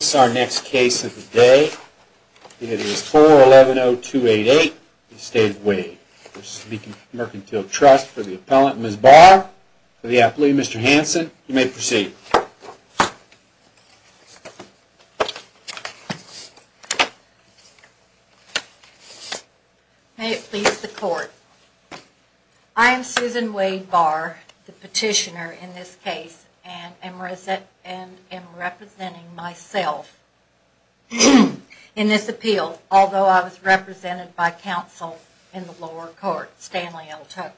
This is our next case of the day. It is 4-110-288 Estate of Wade. This is the Mercantile Trust for the appellant, Ms. Barr, for the athlete, Mr. Hanson. You may proceed. I am Susan Wade Barr, the petitioner in this case, and am representing myself in this appeal, although I was represented by counsel in the lower court, Stanley L. Tucker.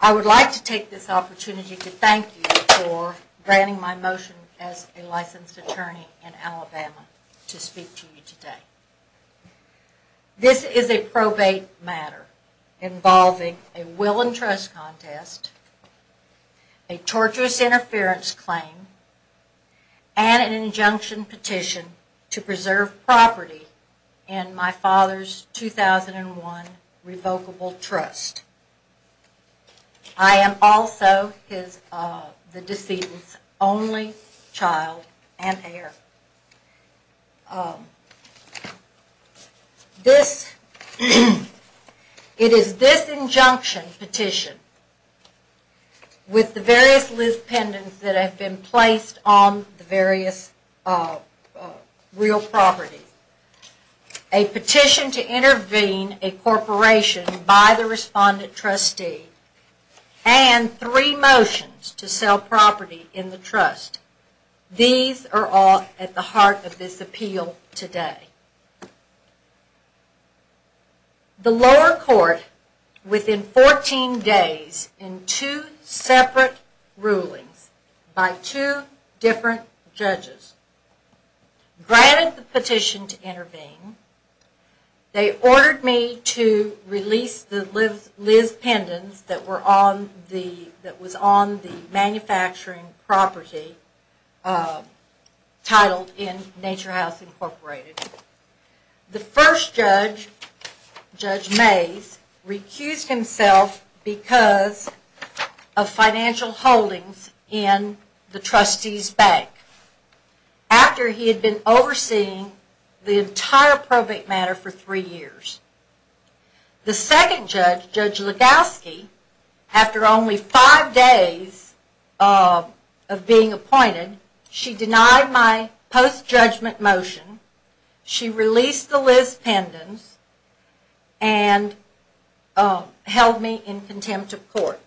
I would like to take this opportunity to thank you for granting my motion as a licensed attorney in Alabama to speak to you today. This is a probate matter involving a will and trust contest, a torturous interference claim, and an injunction petition to preserve property in my father's 2001 revocable trust. I am also the decedent's only child and heir. It is this injunction petition with the various list pendants that have been placed on the various real properties, a petition to intervene a corporation by the respondent trustee, and three motions to sell property in the trust. These are all at the heart of this appeal today. The lower court, within 14 days, in two separate rulings by two different judges, granted the petition to intervene. They ordered me to release the list pendants that was on the manufacturing property titled In Nature House Incorporated. The first judge, Judge Mays, recused himself because of financial holdings in the trustee's bank after he had been overseeing the entire probate matter for three years. The second judge, Judge Legowski, after only five days of being appointed, she denied my post-judgment motion, she released the list pendants, and held me in contempt of court.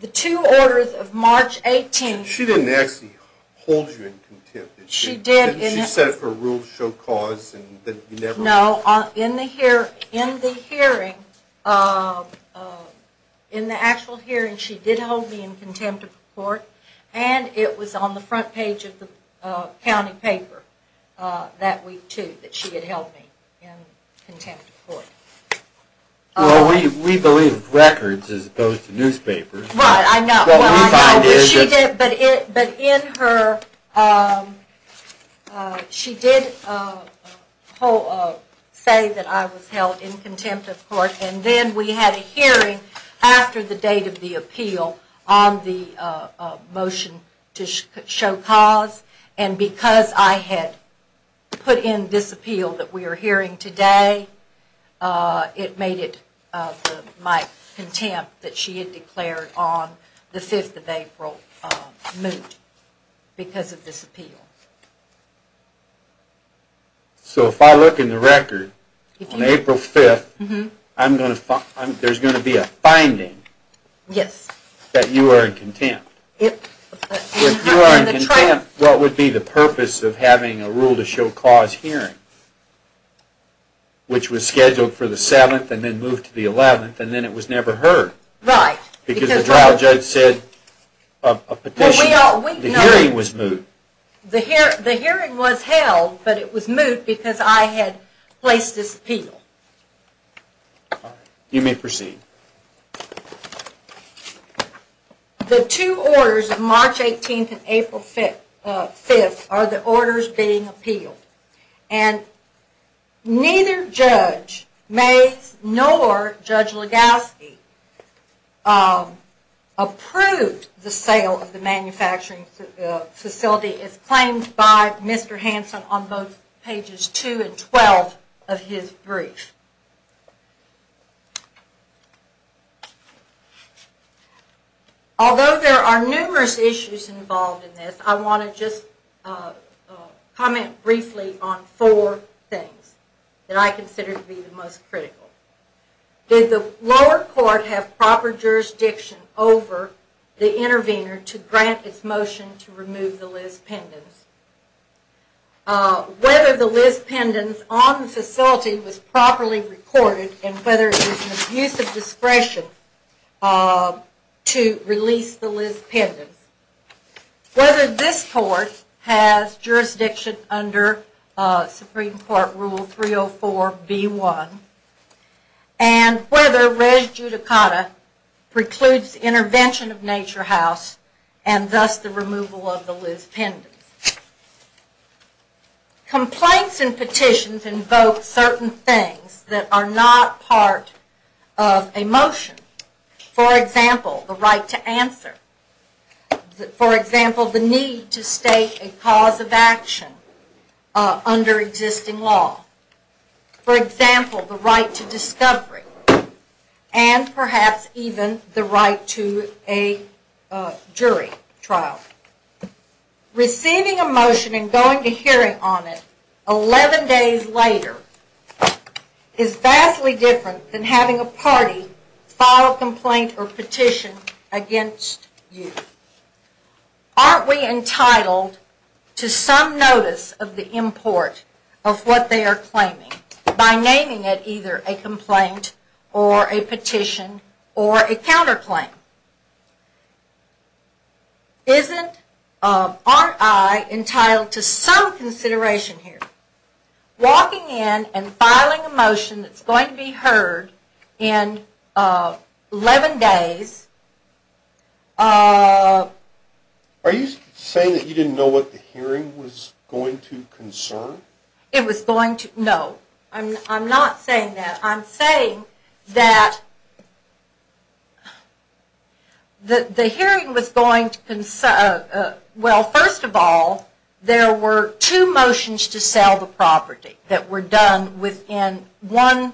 The two orders of March 18th... She didn't actually hold you in contempt, did she? She did. She set up a rule to show cause and that you never... No, in the hearing, in the actual hearing, she did hold me in contempt of court, and it was on the front page of the county paper that week too, that she had held me in contempt of court. Well, we believe records as opposed to newspapers. Right, I know. What we find is that... It made it my contempt that she had declared on the 5th of April moot because of this appeal. So if I look in the record, on April 5th, there's going to be a finding that you are in contempt. If you are in contempt, what would be the purpose of having a rule to show cause hearing? Which was scheduled for the 7th and then moved to the 11th, and then it was never heard. Right. Because the trial judge said a petition... Well, we know... The hearing was moot. The hearing was held, but it was moot because I had placed this appeal. You may proceed. The two orders of March 18th and April 5th are the orders being appealed, and neither judge, Mays nor Judge Legowski, approved the sale of the manufacturing facility as claimed by Mr. Hanson on both pages 2 and 12 of his brief. Although there are numerous issues involved in this, I want to just comment briefly on four things that I consider to be the most critical. Did the lower court have proper jurisdiction over the intervener to grant its motion to remove the Liz Pendens? Whether the Liz Pendens on the facility was properly recorded, and whether it was an abuse of discretion to release the Liz Pendens. Whether this court has jurisdiction under Supreme Court Rule 304B1, and whether res judicata precludes intervention of Nature House, and thus the removal of the Liz Pendens. Complaints and petitions invoke certain things that are not part of a motion. For example, the right to answer. For example, the need to state a cause of action under existing law. For example, the right to discovery. And perhaps even the right to a jury trial. Receiving a motion and going to hearing on it 11 days later is vastly different than having a party file a complaint or petition against you. Aren't we entitled to some notice of the import of what they are claiming by naming it either a complaint or a petition or a counterclaim? Aren't I entitled to some consideration here? Walking in and filing a motion that's going to be heard in 11 days. Are you saying that you didn't know what the hearing was going to concern? It was going to, no. I'm not saying that. I'm saying that the hearing was going to, well, first of all, there were two motions to sell the property that were done within one,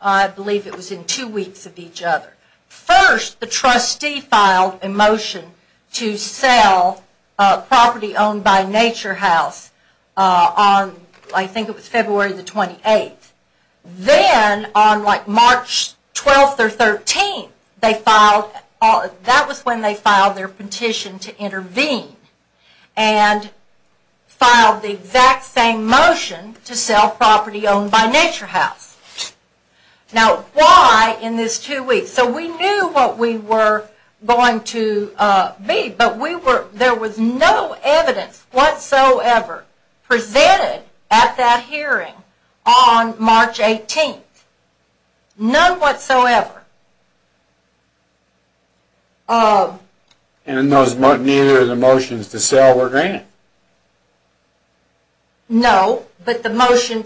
I believe it was in two weeks of each other. First, the trustee filed a motion to sell a property owned by Nature House on, I think it was February the 28th. Then, on like March 12th or 13th, that was when they filed their petition to intervene. And filed the exact same motion to sell property owned by Nature House. Now, why in this two weeks? So, we knew what we were going to be, but there was no evidence whatsoever presented at that hearing on March 18th. None whatsoever. And neither of the motions to sell were granted? No, but the motion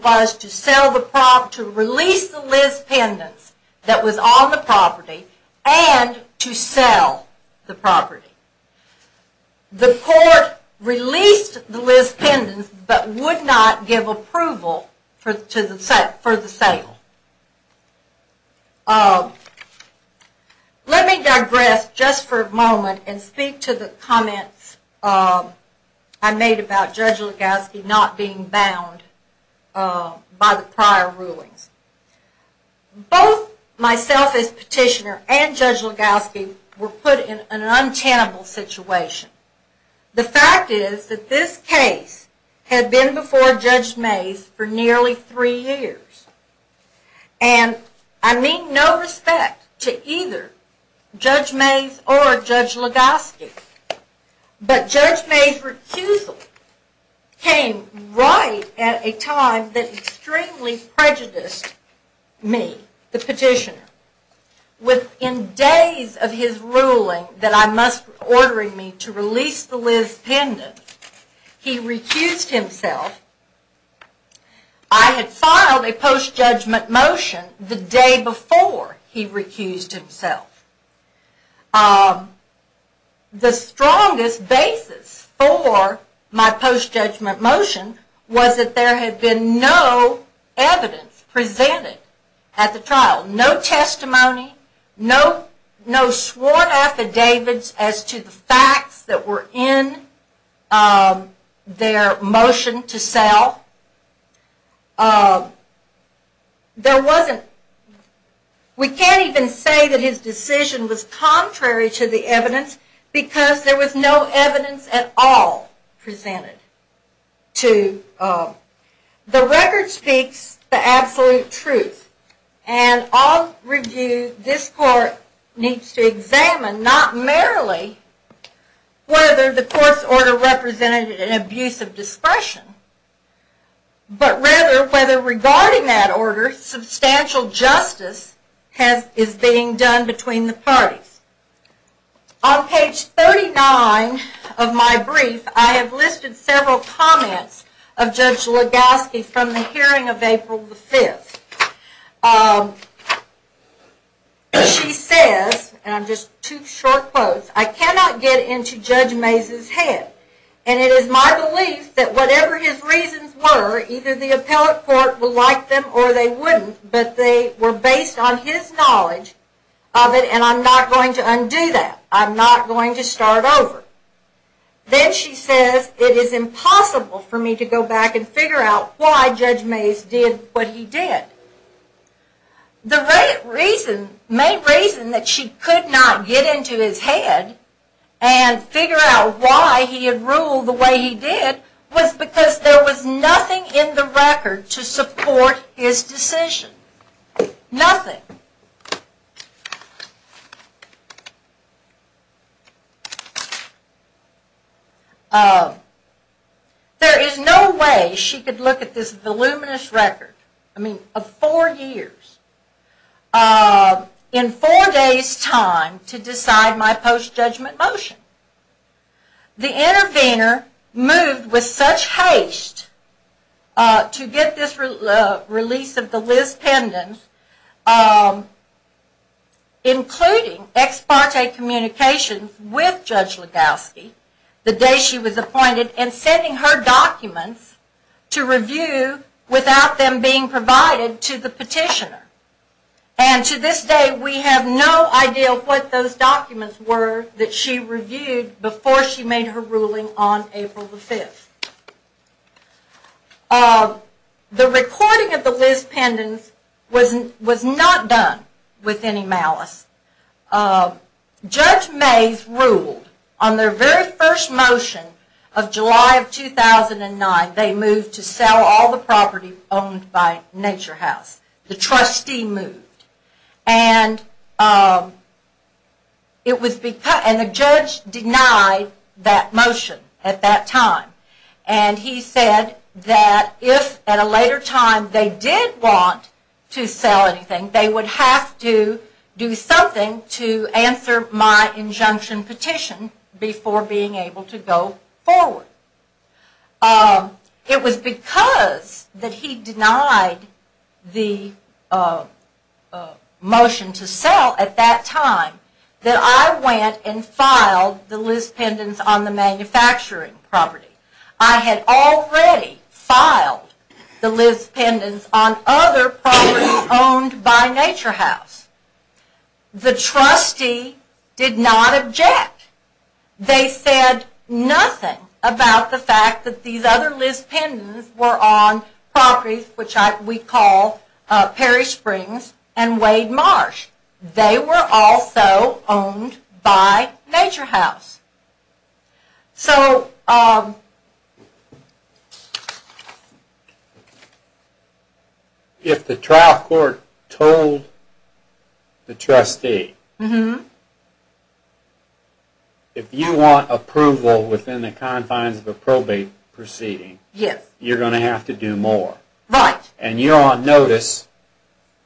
was to release the Liz pendants that was on the property and to sell the property. The court released the Liz pendants, but would not give approval for the sale. Let me digress just for a moment and speak to the comments I made about Judge Legowski not being bound by the prior rulings. Both myself as petitioner and Judge Legowski were put in an untenable situation. The fact is that this case had been before Judge Mays for nearly three years. And I mean no respect to either Judge Mays or Judge Legowski. But Judge Mays' recusal came right at a time that extremely prejudiced me, the petitioner. Within days of his ruling that I must, ordering me to release the Liz pendants, he recused himself. I had filed a post-judgment motion the day before he recused himself. The strongest basis for my post-judgment motion was that there had been no evidence presented at the trial. No testimony, no sworn affidavits as to the facts that were in their motion to sell. We can't even say that his decision was contrary to the evidence, because there was no evidence at all presented. The record speaks the absolute truth. And I'll review, this court needs to examine, not merely whether the court's order represented an abuse of discretion, but rather whether regarding that order substantial justice is being done between the parties. On page 39 of my brief, I have listed several comments of Judge Legowski from the hearing of April 5th. She says, and I'm just two short quotes, I cannot get into Judge Mays' head. And it is my belief that whatever his reasons were, either the appellate court will like them or they wouldn't, but they were based on his knowledge of it and I'm not going to undo that. I'm not going to start over. Then she says it is impossible for me to go back and figure out why Judge Mays did what he did. The main reason that she could not get into his head and figure out why he had ruled the way he did was because there was nothing in the record to support his decision. Nothing. There is no way she could look at this voluminous record of four years, in four days time, to decide my post-judgment motion. The intervener moved with such haste to get this release of the Liz Pendens, including ex parte communications with Judge Legowski the day she was appointed, and sending her documents to review without them being provided to the petitioner. And to this day we have no idea what those documents were that she reviewed before she made her ruling on April the 5th. The recording of the Liz Pendens was not done with any malice. Judge Mays ruled on their very first motion of July of 2009, they moved to sell all the property owned by Nature House. The trustee moved. And the judge denied that motion at that time. And he said that if at a later time they did want to sell anything, they would have to do something to answer my injunction petition, before being able to go forward. It was because that he denied the motion to sell at that time, that I went and filed the Liz Pendens on the manufacturing property. I had already filed the Liz Pendens on other properties owned by Nature House. The trustee did not object. They said nothing about the fact that these other Liz Pendens were on properties which we call Perry Springs and Wade Marsh. They were also owned by Nature House. So... If the trial court told the trustee, if you want approval within the confines of a probate proceeding, you are going to have to do more. And you are on notice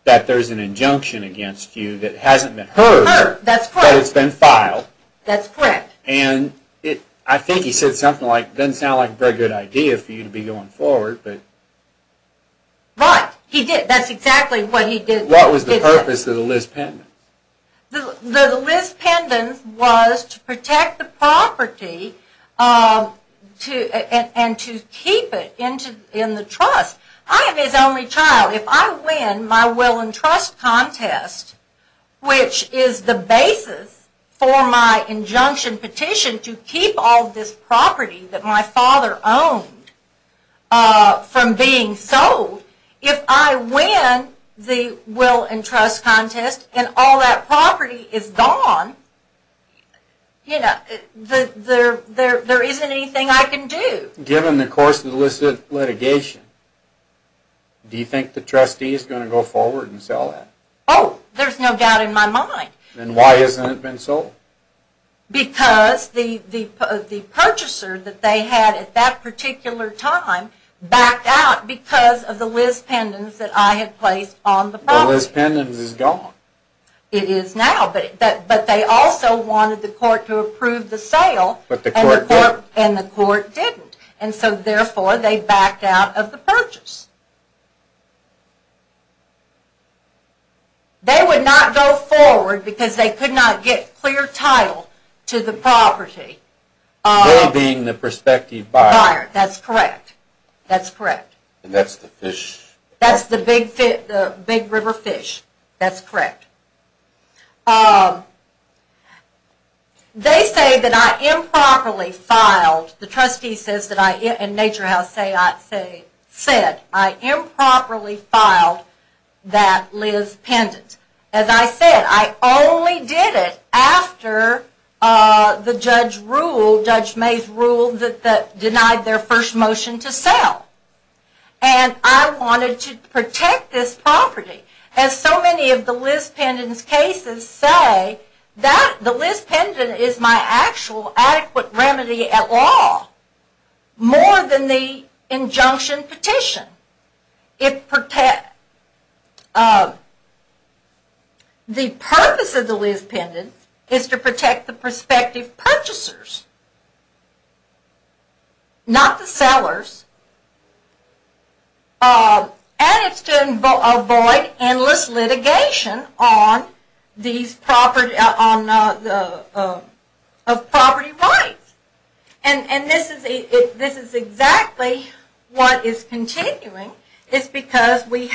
that there is an injunction against you that hasn't been heard, but has been filed. And I think he said something like, it doesn't sound like a very good idea for you to be going forward. Right, he did. That's exactly what he did. What was the purpose of the Liz Pendens? The Liz Pendens was to protect the property and to keep it in the trust. I am his only child. If I win my will and trust contest, which is the basis for my injunction petition to keep all this property that my father owned from being sold, if I win the will and trust contest and all that property is gone, there isn't anything I can do. Given the course of the litigation, do you think the trustee is going to go forward and sell it? Oh, there is no doubt in my mind. Then why hasn't it been sold? Because the purchaser that they had at that particular time backed out because of the Liz Pendens that I had placed on the property. The Liz Pendens is gone. It is now, but they also wanted the court to approve the sale. But the court didn't. And the court didn't. Therefore, they backed out of the purchase. They would not go forward because they could not get clear title to the property. They being the prospective buyer. Buyer, that's correct. That's the fish. That's the big river fish. That's correct. They say that I improperly filed, the trustee says that I improperly filed that Liz Pendens. As I said, I only did it after the judge ruled, Judge Mays ruled that denied their first motion to sell. And I wanted to protect this property. As so many of the Liz Pendens cases say, the Liz Pendens is my actual adequate remedy at law. More than the injunction petition. The purpose of the Liz Pendens is to protect the prospective purchasers. Not the sellers. And it's to avoid endless litigation on these property rights. And this is exactly what is continuing. It's because we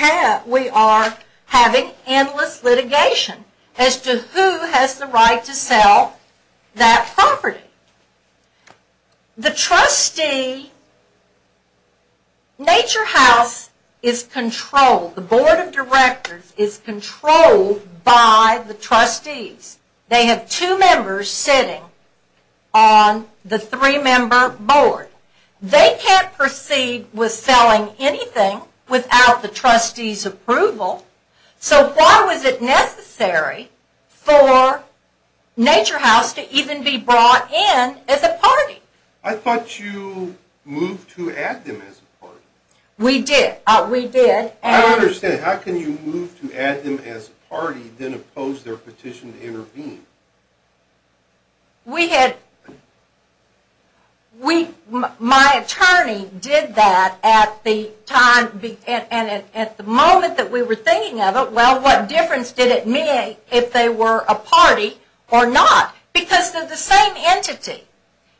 are having endless litigation as to who has the right to sell that property. The trustee, Nature House is controlled, the board of directors is controlled by the trustees. They have two members sitting on the three member board. They can't proceed with selling anything without the trustees approval. So why was it necessary for Nature House to even be brought in as a party? I thought you moved to add them as a party. We did. I don't understand. How can you move to add them as a party, then oppose their petition to intervene? We had, we, my attorney did that at the time, and at the moment that we were thinking of it, well what difference did it make if they were a party or not? Because they're the same entity.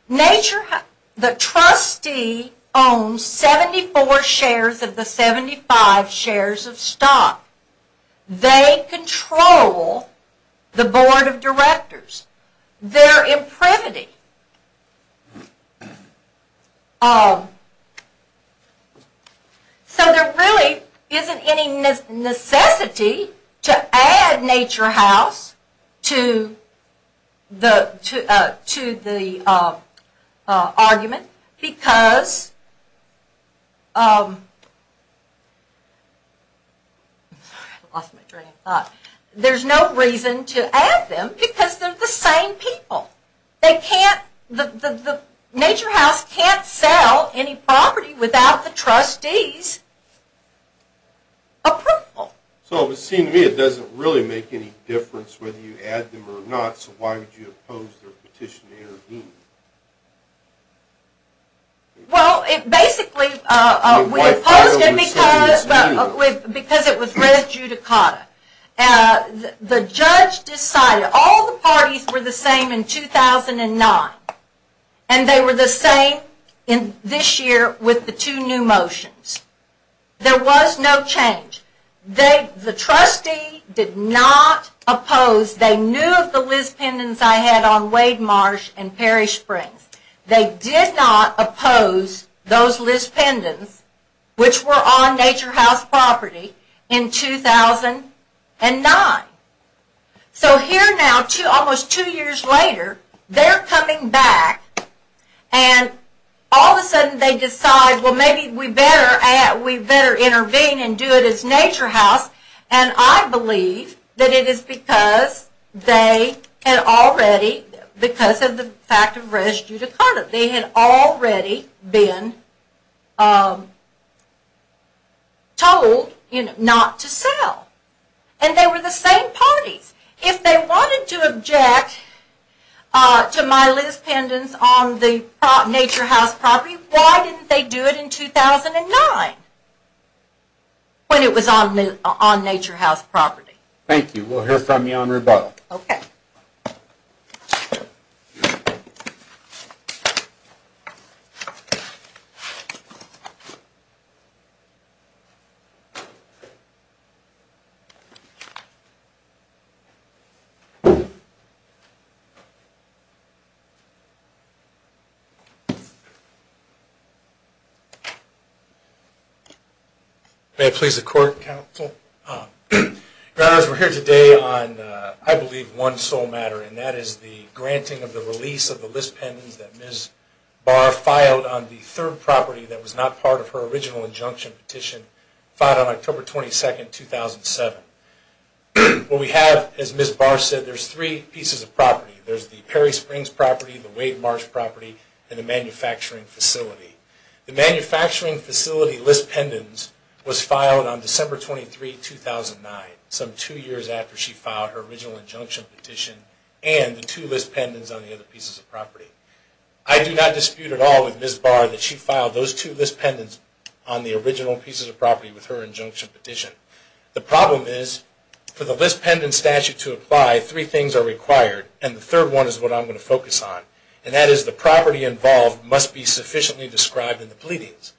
Nature House, the trustee owns 74 shares of the 75 shares of stock. They control the board of directors. They're in privity. So there really isn't any necessity to add Nature House to the argument, because there's no reason to add them because they're the same people. They can't, the Nature House can't sell any property without the trustees approval. So it would seem to me it doesn't really make any difference whether you add them or not, so why would you oppose their petition to intervene? Well, it basically, we opposed it because it was res judicata. The judge decided all the parties were the same in 2009, and they were the same this year with the two new motions. There was no change. The trustee did not oppose. They knew of the list pendants I had on Wade Marsh and Perry Springs. They did not oppose those list pendants, which were on Nature House property, in 2009. So here now, almost two years later, they're coming back, and all of a sudden they decide, well maybe we better intervene and do it as Nature House, and I believe that it is because they had already, because of the fact of res judicata, they had already been told not to sell. And they were the same parties. If they wanted to object to my list pendants on the Nature House property, why didn't they do it in 2009 when it was on Nature House property? Thank you. We'll hear from you on rebuttal. Okay. May I please the court, counsel? Your Honors, we're here today on, I believe, one sole matter, and that is the granting of the release of the list pendants that Ms. Barr filed on the third property that was not part of her original injunction petition filed on October 22, 2007. What we have, as Ms. Barr said, there's three pieces of property. There's the Perry Springs property, the Wade Marsh property, and the manufacturing facility. The manufacturing facility list pendants was filed on December 23, 2009, some two years after she filed her original injunction petition and the two list pendants on the other pieces of property. I do not dispute at all with Ms. Barr that she filed those two list pendants on the original pieces of property with her injunction petition. The problem is, for the list pendants statute to apply, three things are required, and the third one is what I'm going to focus on, and that is the property involved must be sufficiently described in the pleadings.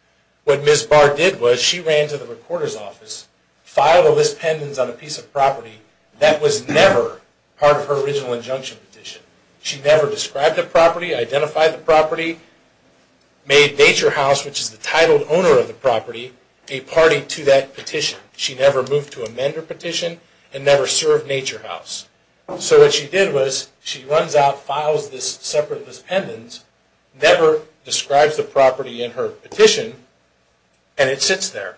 What Ms. Barr did was she ran to the recorder's office, filed a list pendants on a piece of property that was never part of her original injunction petition. She never described the property, identified the property, made Nature House, which is the titled owner of the property, a party to that petition. She never moved to amend her petition and never served Nature House. So what she did was she runs out, files this separate list pendants, never describes the property in her petition, and it sits there.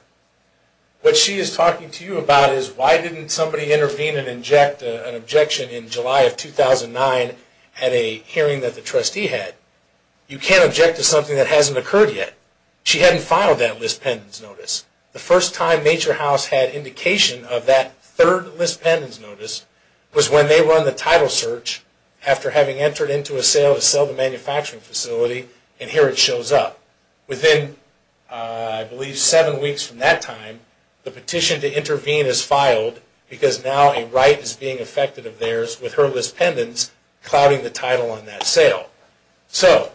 What she is talking to you about is why didn't somebody intervene and inject an objection in July of 2009 at a hearing that the trustee had. You can't object to something that hasn't occurred yet. She hadn't filed that list pendants notice. The first time Nature House had indication of that third list pendants notice was when they were on the title search after having entered into a sale to sell the manufacturing facility, and here it shows up. Within, I believe, seven weeks from that time, the petition to intervene is filed because now a right is being effected of theirs with her list pendants clouding the title on that sale. So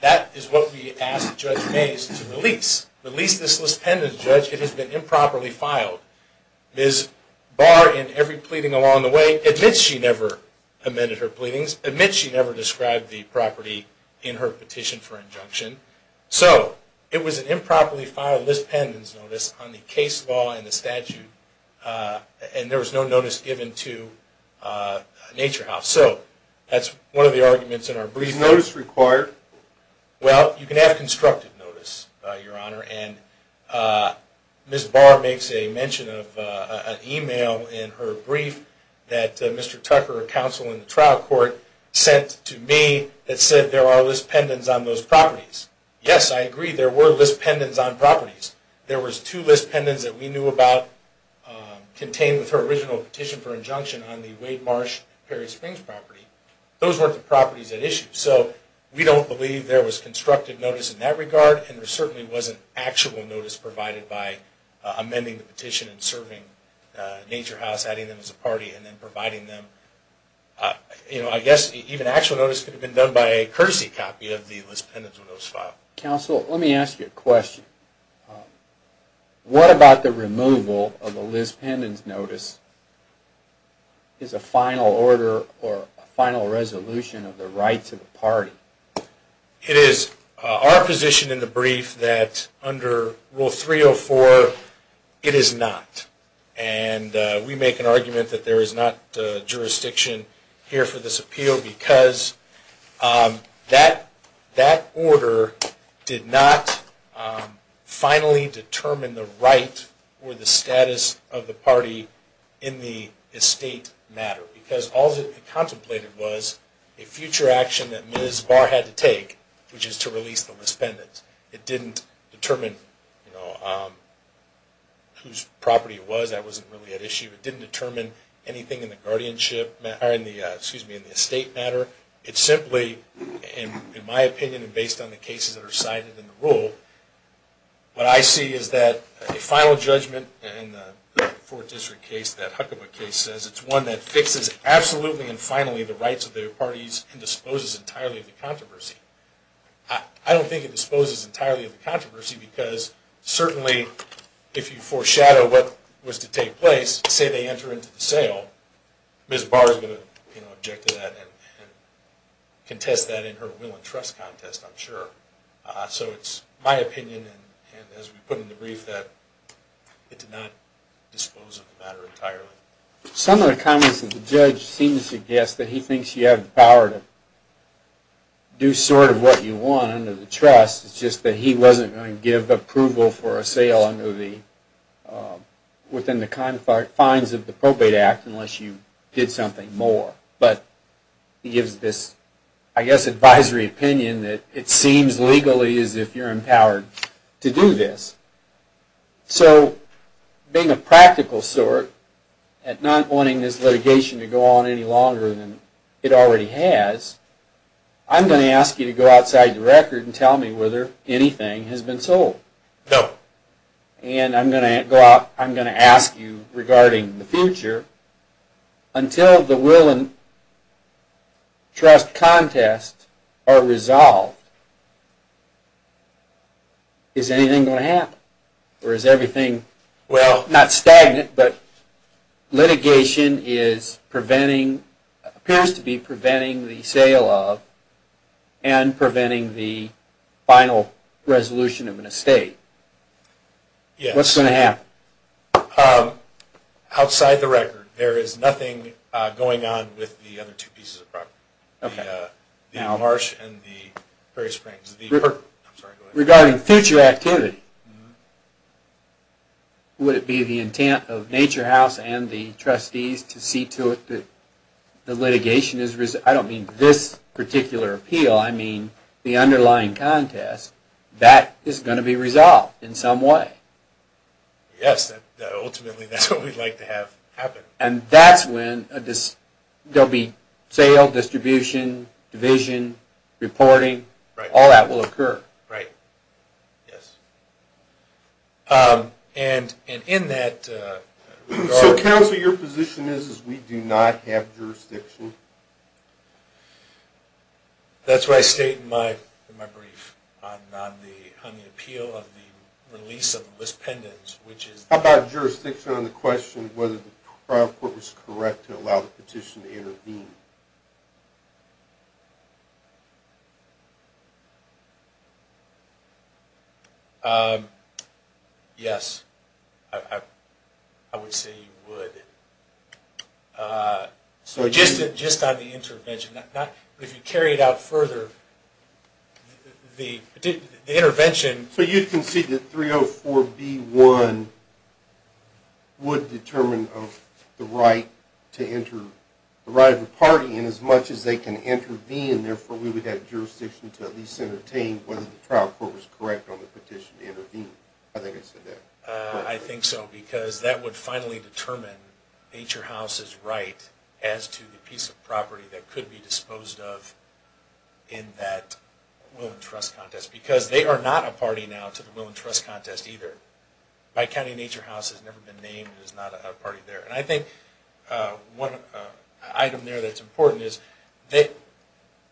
that is what we asked Judge Mays to release. Release this list pendants, Judge. It has been improperly filed. Ms. Barr, in every pleading along the way, admits she never amended her pleadings, admits she never described the property in her petition for injunction. So it was an improperly filed list pendants notice on the case law and the statute, and there was no notice given to Nature House. So that's one of the arguments in our brief. Is notice required? Well, you can have constructive notice, Your Honor, and Ms. Barr makes a mention of an email in her brief that Mr. Tucker, a counsel in the trial court, sent to me that said there are list pendants on those properties. Yes, I agree. There were list pendants on properties. There was two list pendants that we knew about contained with her original petition for injunction on the Wade Marsh Perry Springs property. Those weren't the properties at issue. So we don't believe there was constructive notice in that regard, and there certainly wasn't actual notice provided by amending the petition and serving Nature House, adding them as a party, and then providing them. I guess even actual notice could have been done by a courtesy copy of the list pendants notice file. Counsel, let me ask you a question. What about the removal of the list pendants notice as a final order or a final resolution of the rights of the party? It is our position in the brief that under Rule 304 it is not, and we make an argument that there is not jurisdiction here for this appeal because that order did not finally determine the right or the status of the party in the estate matter, because all that it contemplated was a future action that Ms. Barr had to take, which is to release the list pendants. It didn't determine whose property it was. That wasn't really at issue. It didn't determine anything in the estate matter. It simply, in my opinion and based on the cases that are cited in the rule, what I see is that a final judgment in the Fourth District case, that Huckabee case, says it's one that fixes absolutely and finally the rights of the parties and disposes entirely of the controversy. I don't think it disposes entirely of the controversy because certainly if you foreshadow what was to take place, say they enter into the sale, Ms. Barr is going to object to that and contest that in her will and trust contest, I'm sure. So it's my opinion, and as we put in the brief, that it did not dispose of the matter entirely. Some of the comments of the judge seems to guess that he thinks you have the power to do sort of what you want under the trust. It's just that he wasn't going to give approval for a sale within the confines of the probate act unless you did something more. But he gives this, I guess, advisory opinion that it seems legally as if you're empowered to do this. So being a practical sort, not wanting this litigation to go on any longer than it already has, I'm going to ask you to go outside the record and tell me whether anything has been sold. No. And I'm going to ask you regarding the future, until the will and trust contest are resolved, is anything going to happen? Or is everything, not stagnant, but litigation appears to be preventing the sale of and preventing the final resolution of an estate? Yes. What's going to happen? Outside the record, there is nothing going on with the other two pieces of property, the marsh and the prairie springs. Regarding future activity, would it be the intent of Nature House and the trustees to see to it that the litigation is, I don't mean this particular appeal, I mean the underlying contest, that is going to be resolved in some way? Yes, ultimately that's what we'd like to have happen. And that's when there will be sale, distribution, division, reporting, all that will occur. Right. Yes. And in that regard... So counsel, your position is we do not have jurisdiction? That's what I state in my brief on the appeal of the release of the list pendants, which is... How about jurisdiction on the question whether the trial court was correct to allow the petition to intervene? Yes, I would say you would. So just on the intervention, if you carry it out further, the intervention... So you'd concede that 304B1 would determine the right of the party, and as much as they can intervene, therefore we would have jurisdiction to at least entertain whether the trial court was correct on the petition to intervene. I think I said that. I think so, because that would finally determine Nature House's right as to the piece of property that could be disposed of in that will and trust contest, because they are not a party now to the will and trust contest either. Pike County Nature House has never been named. It is not a party there. And I think one item there that's important is that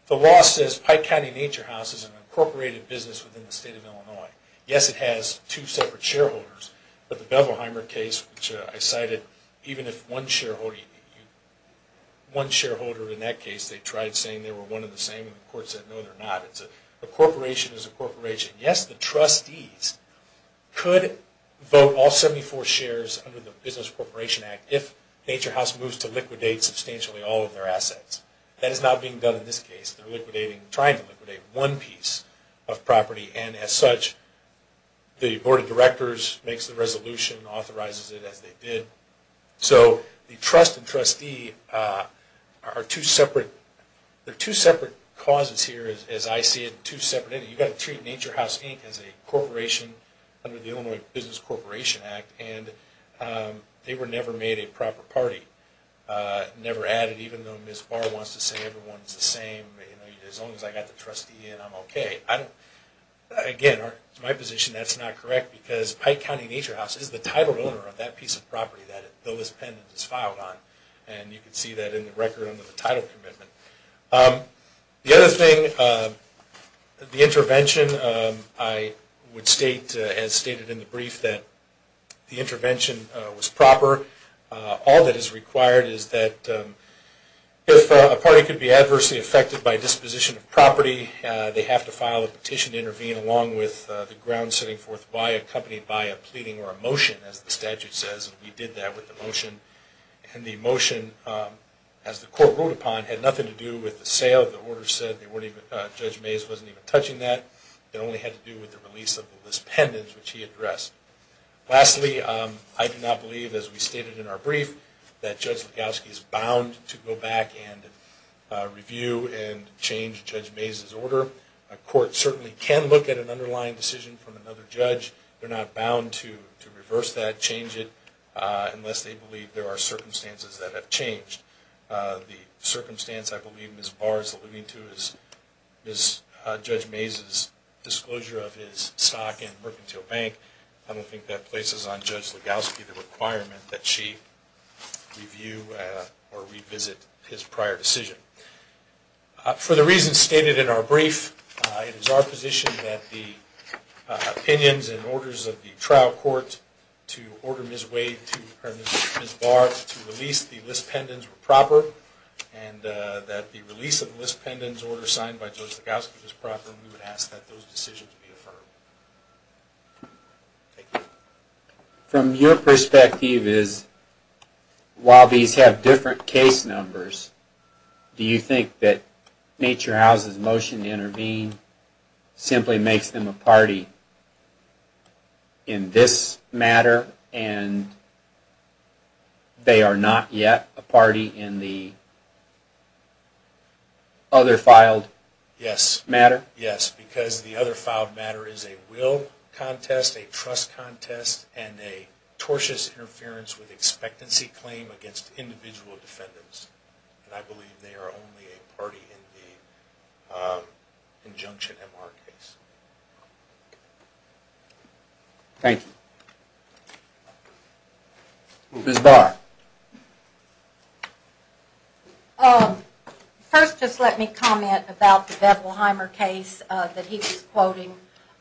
the law says Pike County Nature House is an incorporated business within the state of Illinois. Yes, it has two separate shareholders, but the Bevelheimer case, which I cited, even if one shareholder... The corporation is a corporation. Yes, the trustees could vote all 74 shares under the Business Corporation Act if Nature House moves to liquidate substantially all of their assets. That is not being done in this case. They're trying to liquidate one piece of property, and as such, the Board of Directors makes the resolution, authorizes it as they did. So the trust and trustee are two separate causes here, as I see it, two separate entities. You've got to treat Nature House Inc. as a corporation under the Illinois Business Corporation Act, and they were never made a proper party. Never added, even though Ms. Barr wants to say everyone's the same. As long as I've got the trustee in, I'm okay. Again, to my position, that's not correct, because Pike County Nature House is the title owner of that piece of property that the list of pendants is filed on, and you can see that in the record under the title commitment. The other thing, the intervention, I would state, as stated in the brief, that the intervention was proper. All that is required is that if a party could be adversely affected by disposition of property, they have to file a petition to intervene along with the ground setting forth by a company by a pleading or a motion, as the statute says, and we did that with the motion. And the motion, as the court ruled upon, had nothing to do with the sale. The order said Judge Mays wasn't even touching that. It only had to do with the release of the list of pendants, which he addressed. Lastly, I do not believe, as we stated in our brief, that Judge Legowski is bound to go back and review and change Judge Mays' order. A court certainly can look at an underlying decision from another judge. They're not bound to reverse that, change it, unless they believe there are circumstances that have changed. The circumstance I believe Ms. Barr is alluding to is Judge Mays' disclosure of his stock in Mercantile Bank. I don't think that places on Judge Legowski the requirement that she review or revisit his prior decision. For the reasons stated in our brief, it is our position that the opinions and orders of the trial court to order Ms. Barr to release the list pendants were proper, and that the release of the list pendants order signed by Judge Legowski was proper, and we would ask that those decisions be affirmed. Thank you. From your perspective, while these have different case numbers, do you think that Nature House's motion to intervene simply makes them a party in this matter, and they are not yet a party in the other filed matter? Yes, because the other filed matter is a will contest, a trust contest, and a tortious interference with expectancy claim against individual defendants. I believe they are only a party in the injunction MR case. Thank you. Ms. Barr. First, just let me comment about the Bethelheimer case that he was quoting.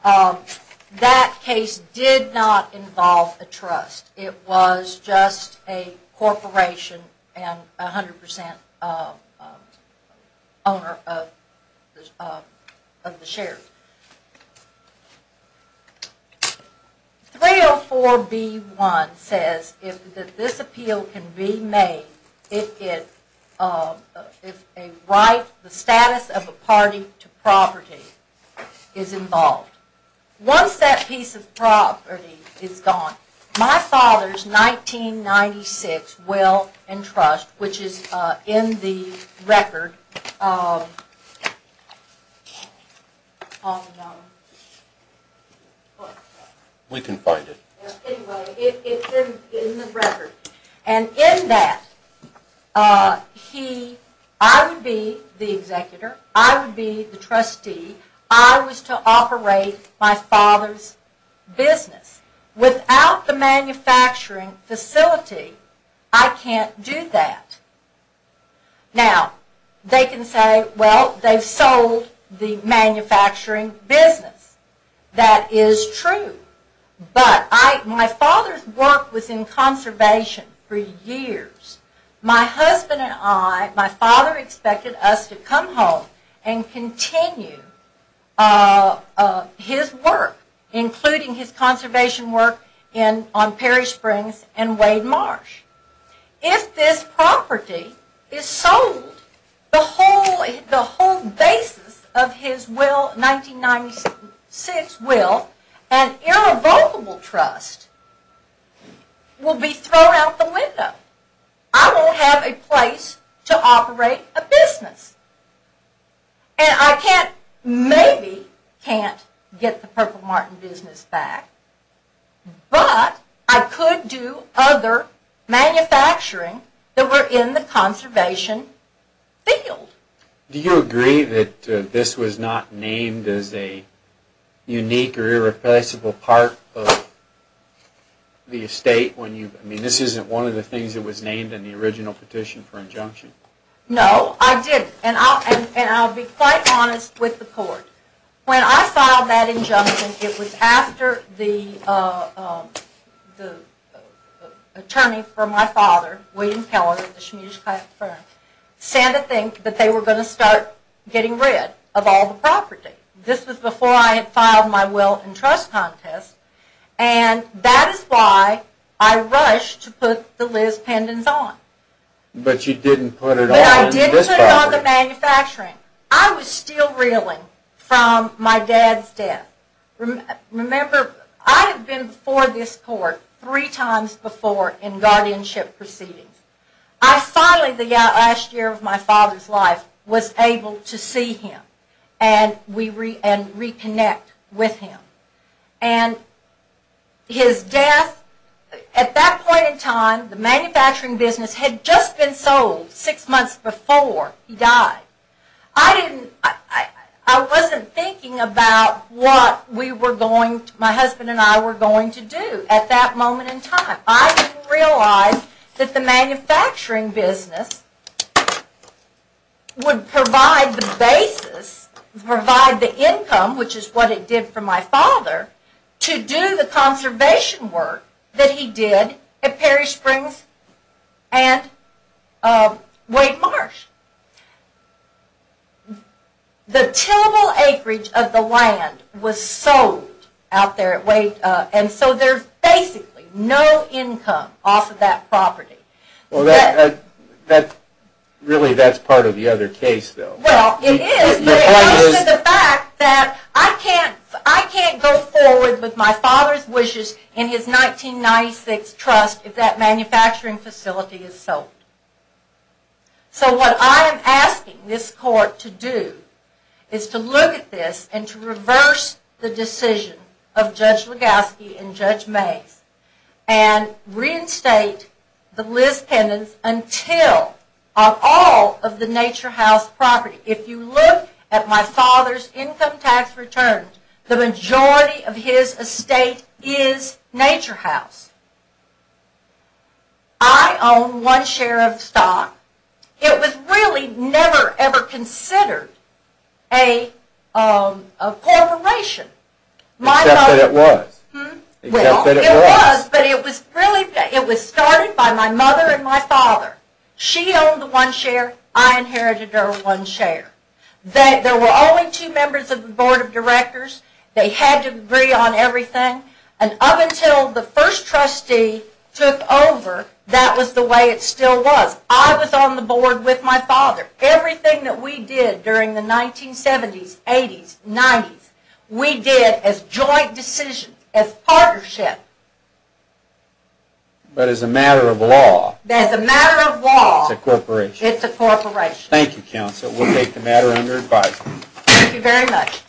That case did not involve a trust. It was just a corporation and 100% owner of the shares. 304B1 says that this appeal can be made if the status of a party to property is involved. Once that piece of property is gone, my father's 1996 will and trust, which is in the record, We can find it. Anyway, it's in the record. And in that, I would be the executor, I would be the trustee, I was to operate my father's business. Without the manufacturing facility, I can't do that. Now, they can say, well, they've sold the manufacturing business. That is true. But my father's work was in conservation for years. My husband and I, my father expected us to come home and continue his work, including his conservation work on Perry Springs and Wade Marsh. If this property is sold, the whole basis of his 1996 will, an irrevocable trust, will be thrown out the window. I won't have a place to operate a business. And I maybe can't get the Purple Martin business back, but I could do other manufacturing that were in the conservation field. Do you agree that this was not named as a unique or irreplaceable part of the estate? I mean, this isn't one of the things that was named in the original petition for injunction. No, I didn't. And I'll be quite honest with the court. When I filed that injunction, it was after the attorney for my father, William Keller, at the Schmiedes-Klatt firm, said a thing that they were going to start getting rid of all the property. This was before I had filed my will and trust contest, and that is why I rushed to put the Liz pendants on. But you didn't put it on this property. But I didn't put it on the manufacturing. I was still reeling from my dad's death. Remember, I had been before this court three times before in guardianship proceedings. I finally, the last year of my father's life, was able to see him and reconnect with him. And his death, at that point in time, the manufacturing business had just been sold six months before he died. I wasn't thinking about what my husband and I were going to do at that moment in time. I didn't realize that the manufacturing business would provide the basis, provide the income, which is what it did for my father, to do the conservation work that he did at Perry Springs and Wade Marsh. The tillable acreage of the land was sold out there at Wade, and so there's basically no income off of that property. Really, that's part of the other case, though. Well, it is, but also the fact that I can't go forward with my father's wishes in his 1996 trust if that manufacturing facility is sold. So what I am asking this court to do is to look at this and to reverse the decision of Judge Legowski and Judge Mays and reinstate the Liz Pendens until of all of the Nature House property. If you look at my father's income tax returns, the majority of his estate is Nature House. I own one share of the stock. It was really never, ever considered a corporation. Except that it was. Well, it was, but it was started by my mother and my father. She owned one share. I inherited her one share. There were only two members of the board of directors. They had to agree on everything, and up until the first trustee took over, that was the way it still was. I was on the board with my father. Everything that we did during the 1970s, 80s, 90s, we did as joint decisions, as partnership. But as a matter of law. As a matter of law. It's a corporation. It's a corporation. Thank you, counsel. We'll take the matter under advisement. Thank you very much.